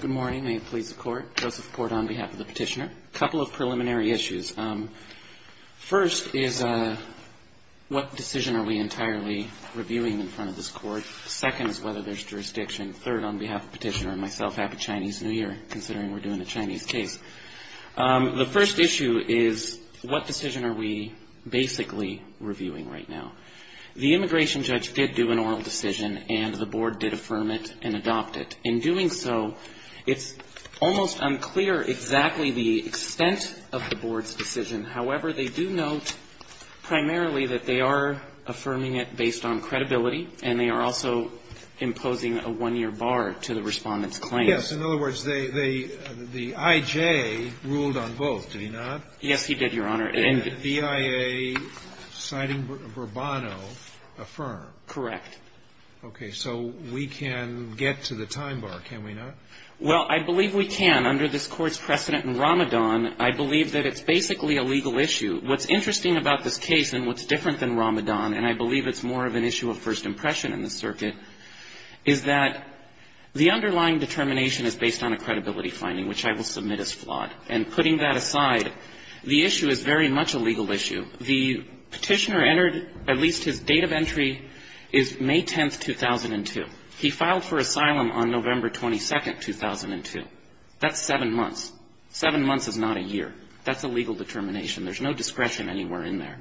Good morning. May it please the Court. Joseph Court on behalf of the Petitioner. A couple of preliminary issues. First is what decision are we entirely reviewing in front of this Court? Second is whether there's jurisdiction. Third, on behalf of the Petitioner and myself, Happy Chinese New Year, considering we're doing a Chinese case. The first issue is what decision are we basically reviewing right now? The immigration judge did do an oral decision and the board did affirm it and adopt it. In doing so, it's almost unclear exactly the extent of the board's decision. However, they do note primarily that they are affirming it based on credibility and they are also imposing a one-year bar to the respondent's claim. Yes. In other words, the I.J. ruled on both, did he not? Yes, he did, Your Honor. And the BIA, citing Bourbonno, affirmed? Correct. Okay. So we can get to the time bar, can we not? Well, I believe we can. Under this Court's precedent in Ramadan, I believe that it's basically a legal issue. What's interesting about this case and what's different than Ramadan, and I believe it's more of an issue of first impression in the circuit, is that the underlying determination is based on a credibility finding, which I will submit as flawed. And putting that aside, the issue is very much a legal issue. The Petitioner entered, at least his date of entry is May 10th, 2002. He filed for asylum on November 22nd, 2002. That's seven months. Seven months is not a year. That's a legal determination. There's no discretion anywhere in there.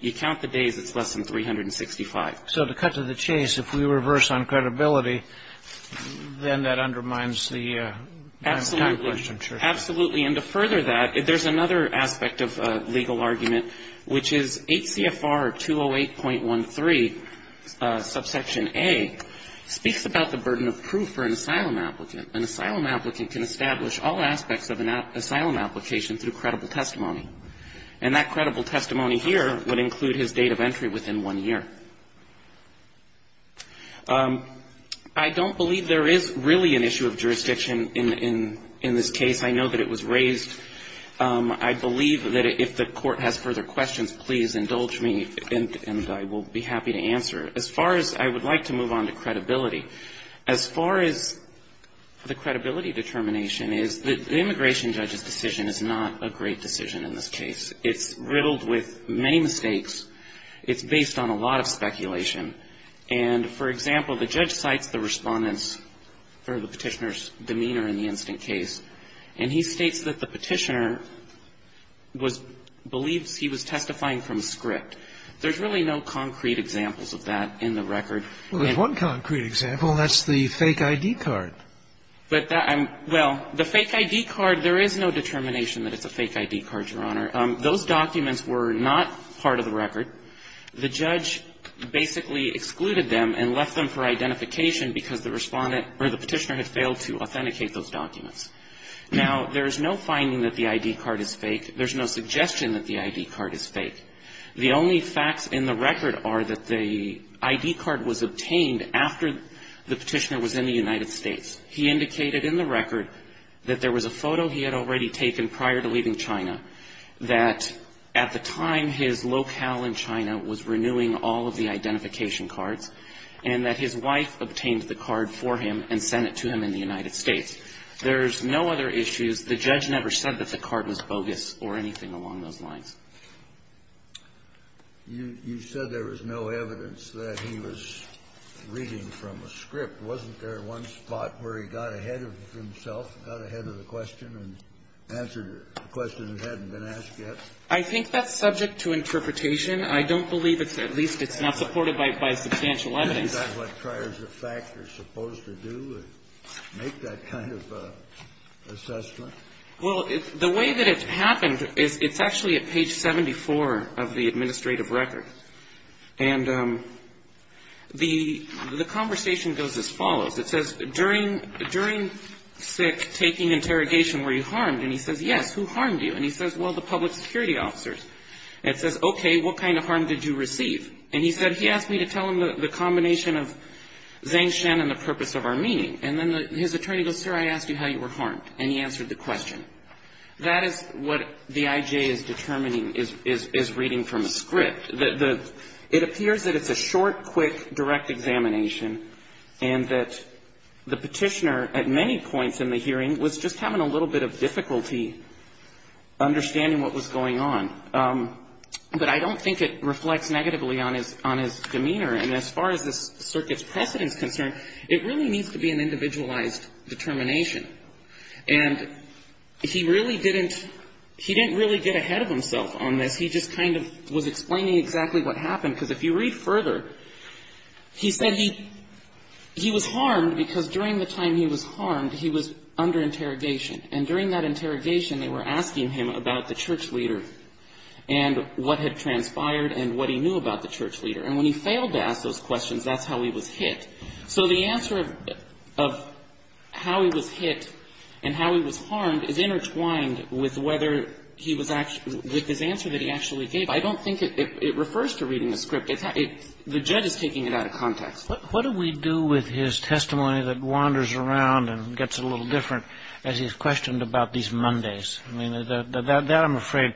You count the days, it's less than 365. So to cut to the chase, if we reverse on credibility, then that undermines the time question, sure. Absolutely. And to further that, there's another aspect of legal argument, which is 8 CFR 208.13, subsection A, speaks about the burden of proof for an asylum applicant. An asylum applicant can establish all aspects of an asylum application through credible testimony. And that credible testimony here would include his date of entry within one year. I don't believe there is really an issue of jurisdiction in this case. I know that it was raised. I believe that if the Court has further questions, please indulge me, and I will be happy to answer. As far as I would like to move on to credibility, as far as the credibility determination is, the immigration judge's decision is not a great decision in this case. It's riddled with many mistakes. It's based on a lot of speculation. And, for example, the judge cites the Respondent's or the Petitioner's demeanor in the Winston case, and he states that the Petitioner was — believes he was testifying from script. There's really no concrete examples of that in the record. Well, there's one concrete example, and that's the fake ID card. But that — well, the fake ID card, there is no determination that it's a fake ID card, Your Honor. Those documents were not part of the record. The judge basically excluded them and left them for identification because the Respondent or the Petitioner had failed to authenticate those documents. Now, there is no finding that the ID card is fake. There's no suggestion that the ID card is fake. The only facts in the record are that the ID card was obtained after the Petitioner was in the United States. He indicated in the record that there was a photo he had already taken prior to leaving China, that at the time his locale in China was renewing all of the identification cards, and that his wife obtained the card for him and sent it to him in the United States. There's no other issues. The judge never said that the card was bogus or anything along those lines. You said there was no evidence that he was reading from a script. Wasn't there one spot where he got ahead of himself, got ahead of the question and answered a question that hadn't been asked yet? I think that's subject to interpretation. I don't believe it's, at least it's not supported by substantial evidence. Is that what priors of fact are supposed to do, make that kind of assessment? Well, the way that it happened is it's actually at page 74 of the administrative record. And the conversation goes as follows. It says, during SICK taking interrogation, were you harmed? And he says, yes. Who harmed you? And he says, well, the public security officers. And it says, okay, what kind of harm did you receive? And he said, he asked me to tell him the combination of Zhang Shen and the purpose of our meeting. And then his attorney goes, sir, I asked you how you were harmed, and he answered the question. That is what the IJ is determining is reading from a script. It appears that it's a short, quick, direct examination, and that the petitioner at many points in the hearing was just having a little bit of difficulty understanding what was going on. But I don't think it reflects negatively on his demeanor. And as far as the circuit's precedence is concerned, it really needs to be an individualized determination. And he really didn't he didn't really get ahead of himself on this. He just kind of was explaining exactly what happened. Because if you read further, he said he was harmed because during the time he was harmed, he was under interrogation. And during that interrogation, they were asking him about the church leader and what had transpired and what he knew about the church leader. And when he failed to ask those questions, that's how he was hit. So the answer of how he was hit and how he was harmed is intertwined with whether he was actually with his answer that he actually gave. I don't think it refers to reading the script. The judge is taking it out of context. What do we do with his testimony that wanders around and gets a little different as he's questioned about these Mondays? I mean, that I'm afraid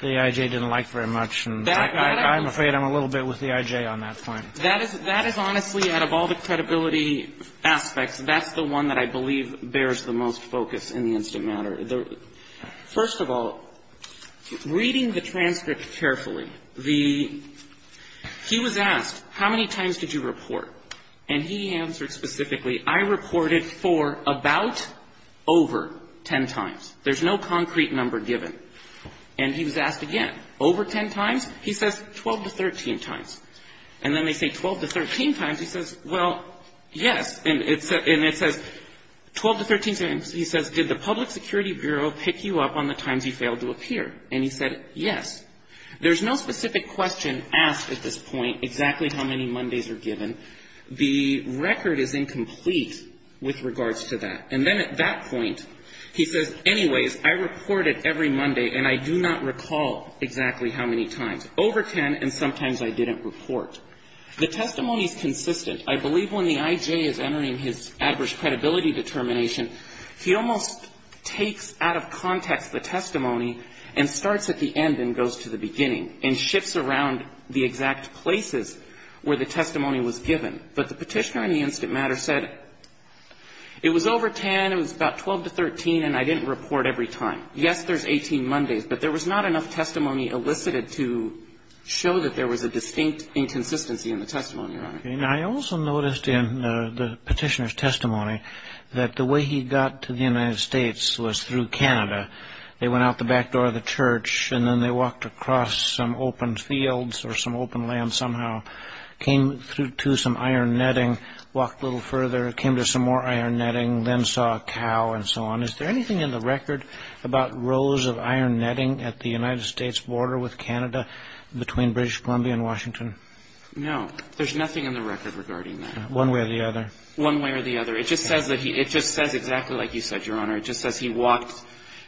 the I.J. didn't like very much. I'm afraid I'm a little bit with the I.J. on that point. That is honestly, out of all the credibility aspects, that's the one that I believe bears the most focus in the instant matter. First of all, reading the transcript carefully, the he was asked, how many times did you report? And he answered specifically, I reported for about over ten times. There's no concrete number given. And he was asked again, over ten times? He says, 12 to 13 times. And then they say 12 to 13 times. He says, well, yes. And it says 12 to 13 times. He says, did the Public Security Bureau pick you up on the times you failed to appear? And he said, yes. There's no specific question asked at this point, exactly how many Mondays are given. The record is incomplete with regards to that. And then at that point, he says, anyways, I reported every Monday, and I do not recall exactly how many times. Over ten, and sometimes I didn't report. The testimony is consistent. I believe when the I.J. is entering his average credibility determination, he almost takes out of context the testimony and starts at the end and goes to the beginning and shifts around the exact places where the testimony was given. But the Petitioner in the instant matter said, it was over ten, it was about 12 to 13, and I didn't report every time. Yes, there's 18 Mondays, but there was not enough testimony elicited to show that there I also noticed in the Petitioner's testimony that the way he got to the United States was through Canada. They went out the back door of the church, and then they walked across some open fields or some open land somehow, came through to some iron netting, walked a little further, came to some more iron netting, then saw a cow and so on. Is there anything in the record about rows of iron netting at the United States border with Canada between British Columbia and Washington? No. There's nothing in the record regarding that. One way or the other. One way or the other. It just says exactly like you said, Your Honor. It just says he walked.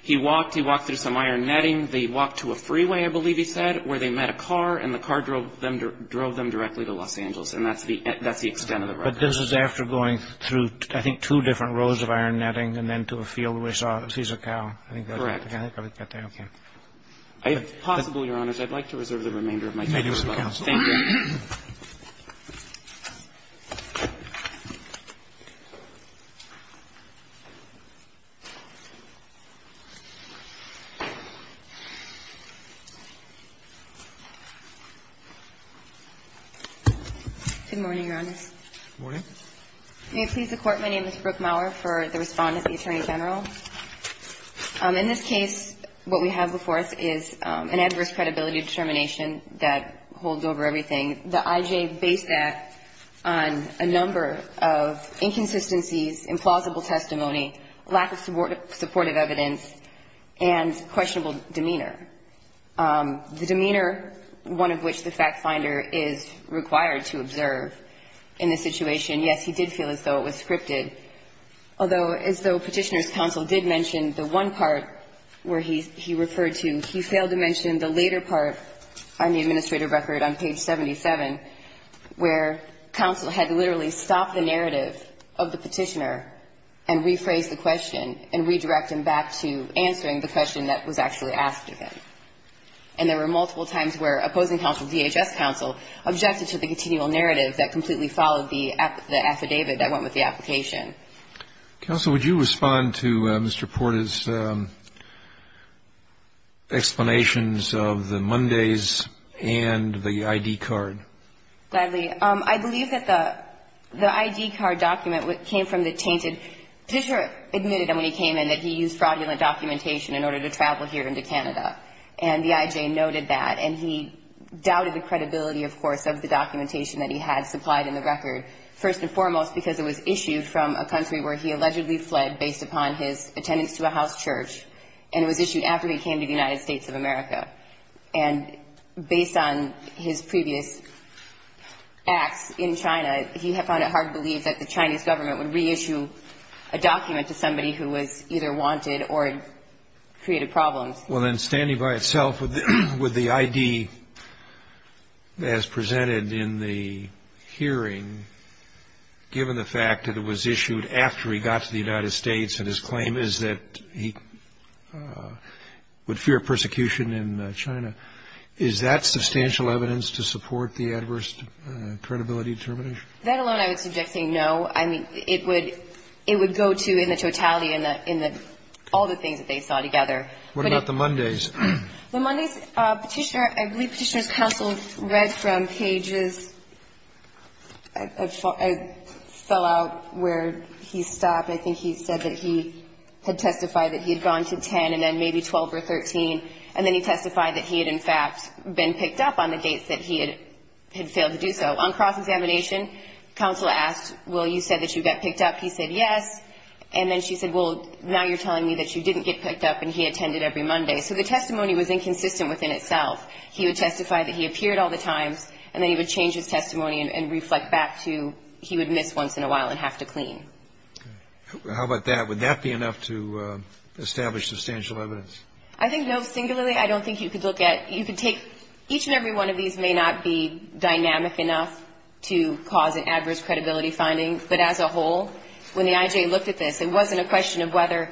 He walked. He walked through some iron netting. They walked to a freeway, I believe he said, where they met a car, and the car drove them directly to Los Angeles. And that's the extent of the record. But this is after going through, I think, two different rows of iron netting and then to a field where he saw a cow. Correct. If possible, Your Honors, I'd like to reserve the remainder of my time. Thank you. Thank you, Mr. Counsel. Thank you. Good morning, Your Honors. Good morning. May it please the Court, my name is Brooke Maurer for the Respondent, the Attorney General. In this case, what we have before us is an adverse credibility determination that holds over everything. The IJ based that on a number of inconsistencies, implausible testimony, lack of supportive evidence, and questionable demeanor. The demeanor, one of which the fact finder is required to observe in this situation, yes, he did feel as though it was scripted. Although, as though Petitioner's counsel did mention the one part where he referred to, he failed to mention the later part on the administrator record on page 77, where counsel had literally stopped the narrative of the Petitioner and rephrased the question and redirected him back to answering the question that was actually asked of him. And there were multiple times where opposing counsel, DHS counsel, objected to the Counsel, would you respond to Mr. Porta's explanations of the Mondays and the ID card? Gladly. I believe that the ID card document came from the tainted. Petitioner admitted when he came in that he used fraudulent documentation in order to travel here into Canada. And the IJ noted that. And he doubted the credibility, of course, of the documentation that he had supplied in the record, first and foremost because it was issued from a country where he allegedly fled based upon his attendance to a house church, and it was issued after he came to the United States of America. And based on his previous acts in China, he found it hard to believe that the Chinese government would reissue a document to somebody who was either wanted or created problems. Well, then, standing by itself with the ID as presented in the hearing, given the fact that it was issued after he got to the United States and his claim is that he would fear persecution in China, is that substantial evidence to support the adverse credibility determination? That alone I would suggest saying no. I mean, it would go to, in the totality, in all the things that they saw together. What about the Mondays? The Mondays Petitioner, I believe Petitioner's counsel read from cages. I fell out where he stopped. I think he said that he had testified that he had gone to 10 and then maybe 12 or 13, and then he testified that he had, in fact, been picked up on the dates that he had failed to do so. On cross-examination, counsel asked, well, you said that you got picked up. He said yes. And then she said, well, now you're telling me that you didn't get picked up and he attended every Monday. So the testimony was inconsistent within itself. He would testify that he appeared all the times, and then he would change his testimony and reflect back to he would miss once in a while and have to clean. Okay. How about that? Would that be enough to establish substantial evidence? I think no. Singularly, I don't think you could look at you could take each and every one of these may not be dynamic enough to cause an adverse credibility finding, but as a whole, when the I.J. looked at this, it wasn't a question of whether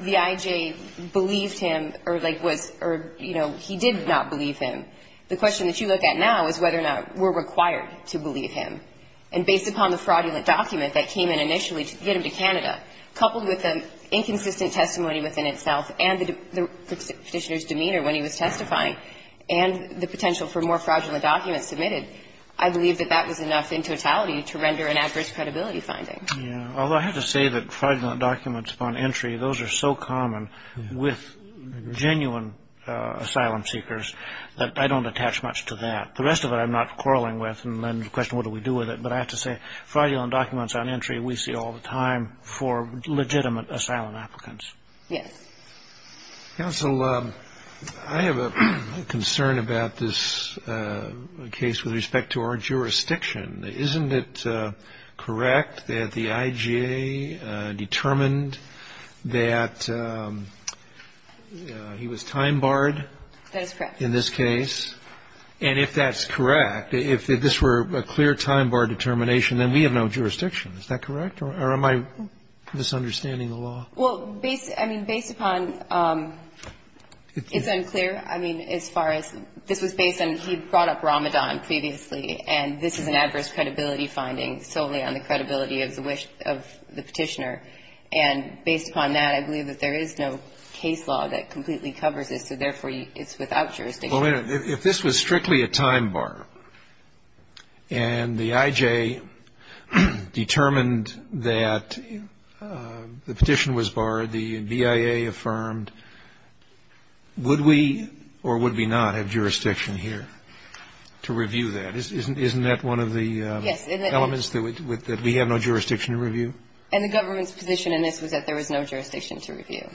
the I.J. believed him or, like, was or, you know, he did not believe him. The question that you look at now is whether or not we're required to believe him. And based upon the fraudulent document that came in initially to get him to Canada, coupled with the inconsistent testimony within itself and the Petitioner's demeanor when he was testifying and the potential for more fraudulent documents submitted, I believe that that was enough in totality to render an adverse credibility finding. Yeah. Although I have to say that fraudulent documents upon entry, those are so common with genuine asylum seekers that I don't attach much to that. The rest of it I'm not quarreling with and then the question, what do we do with it? But I have to say, fraudulent documents on entry, we see all the time for legitimate asylum applicants. Yes. Counsel, I have a concern about this case with respect to our jurisdiction. Isn't it correct that the IGA determined that he was time barred in this case? And if that's correct, if this were a clear time bar determination, then we have no jurisdiction. Is that correct? Or am I misunderstanding the law? Well, I mean, based upon, it's unclear. I mean, as far as this was based on, he brought up Ramadan previously and this is an adverse credibility finding solely on the credibility of the petitioner. And based upon that, I believe that there is no case law that completely covers this, so therefore it's without jurisdiction. Well, if this was strictly a time bar and the IJ determined that the petition was barred, the BIA affirmed, would we or would we not have jurisdiction here to review that? Isn't that one of the elements that we have no jurisdiction to review? And the government's position in this was that there was no jurisdiction to review.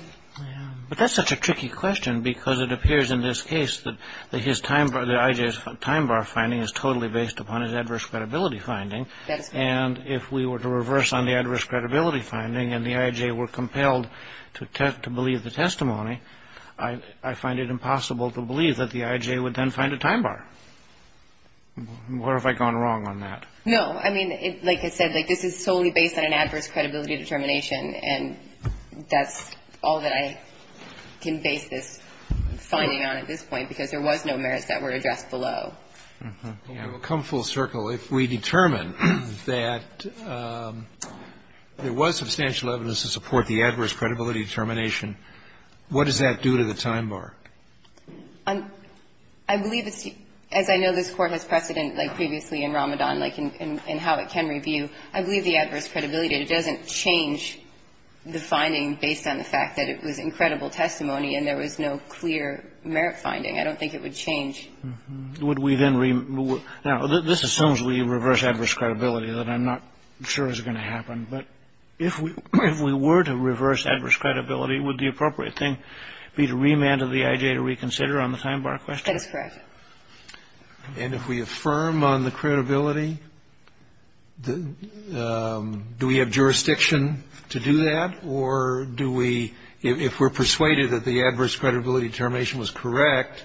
But that's such a tricky question because it appears in this case that the IJ's time bar finding is totally based upon his adverse credibility finding. And if we were to reverse on the adverse credibility finding and the IJ were compelled to believe the testimony, I find it impossible to believe that the IJ would then find a time bar. Where have I gone wrong on that? No. I mean, like I said, this is solely based on an adverse credibility determination. And that's all that I can base this finding on at this point, because there was no merits that were addressed below. Come full circle, if we determine that there was substantial evidence to support the adverse credibility determination, what does that do to the time bar? I believe it's, as I know this Court has precedent like previously in Ramadan, like in how it can review, I believe the adverse credibility, it doesn't change the finding based on the fact that it was incredible testimony and there was no clear merit finding. I don't think it would change. Would we then, now, this assumes we reverse adverse credibility that I'm not sure is going to happen. But if we were to reverse adverse credibility, would the appropriate thing be to remand to the IJ to reconsider on the time bar question? That is correct. And if we affirm on the credibility, do we have jurisdiction to do that? Or do we, if we're persuaded that the adverse credibility determination was correct,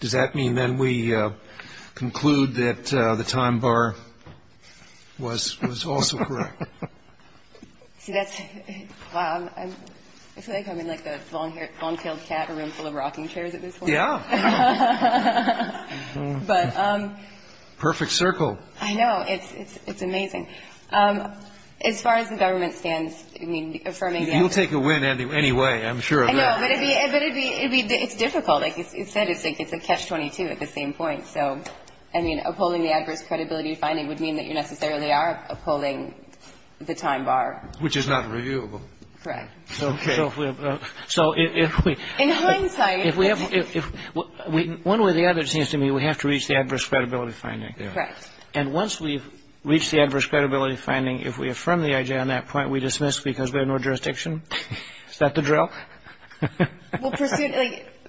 does that mean then we conclude that the time bar was also correct? See, that's, wow, I feel like I'm in like the long-tailed cat, a room full of rocking chairs at this point. Yeah. Perfect circle. I know. It's amazing. As far as the government stands, I mean, affirming the adverse credibility. You'll take a win anyway, I'm sure of that. I know, but it'd be, it's difficult. Like you said, it's a catch-22 at the same point. So, I mean, upholding the adverse credibility finding would mean that you necessarily are upholding the time bar. Which is not reviewable. Correct. Okay. So, if we. In hindsight. If we have, one way or the other, it seems to me we have to reach the adverse credibility finding. Correct. And once we've reached the adverse credibility finding, if we affirm the IJ on that point, we dismiss because we have no jurisdiction? Is that the drill? Well,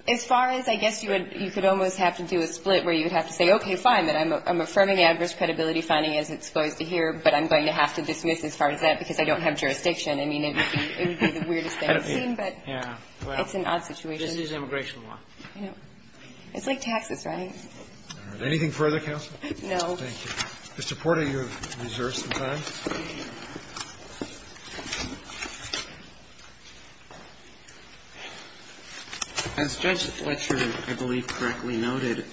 as far as, I guess you would, you could almost have to do a split where you would have to say, okay, fine, I'm affirming the adverse credibility finding as it's supposed to here, but I'm going to have to dismiss as far as that because I don't have jurisdiction. I mean, it would be the weirdest thing I've seen, but it's an odd situation. Just use immigration law. I know. It's like taxes, right? Anything further, counsel? No. Thank you. Mr. Porter, you have reserved some time. As Judge Fletcher, I believe, correctly noted,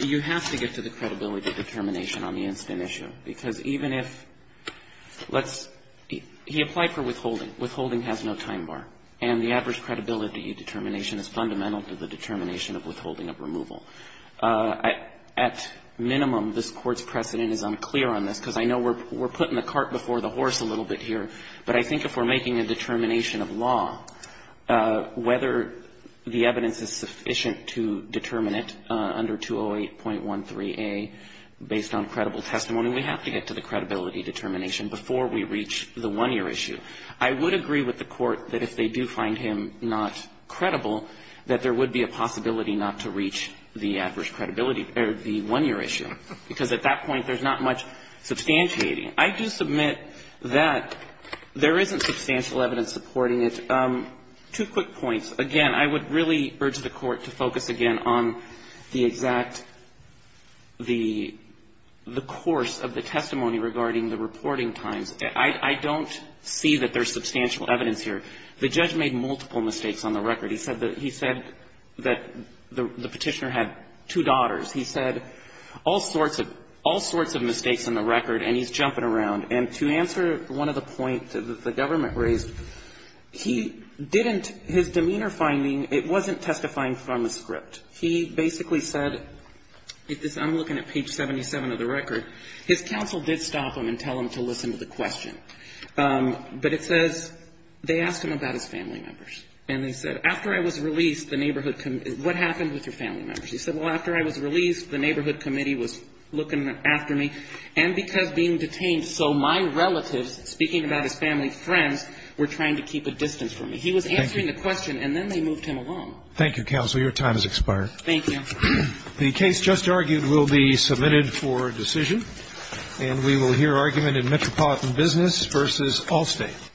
you have to get to the credibility determination on the instant issue because even if let's he applied for withholding. Withholding has no time bar. And the adverse credibility determination is fundamental to the determination of withholding of removal. At minimum, this Court's precedent is unclear on this because I know we're putting the cart before the horse a little bit here, but I think if we're making a determination of law, whether the evidence is sufficient to determine it under 208.13a based on credible testimony, we have to get to the credibility determination before we reach the one-year issue. I would agree with the Court that if they do find him not credible, that there would be a possibility not to reach the adverse credibility or the one-year issue because at that point, there's not much substantiating. I do submit that there isn't substantial evidence supporting it. Two quick points. Again, I would really urge the Court to focus again on the exact the course of the testimony regarding the reporting times. I don't see that there's substantial evidence here. The judge made multiple mistakes on the record. He said that he said that the Petitioner had two daughters. He said all sorts of mistakes on the record, and he's jumping around. And to answer one of the points that the government raised, he didn't, his demeanor finding, it wasn't testifying from a script. He basically said, I'm looking at page 77 of the record, his counsel did stop him and tell him to listen to the question. But it says they asked him about his family members. And they said, after I was released, the neighborhood, what happened with your family members? He said, well, after I was released, the neighborhood committee was looking after me. And because being detained, so my relatives, speaking about his family friends, were trying to keep a distance from me. He was answering the question, and then they moved him along. Thank you, counsel. Your time has expired. Thank you. The case just argued will be submitted for decision. And we will hear argument in Metropolitan Business v. Allstate.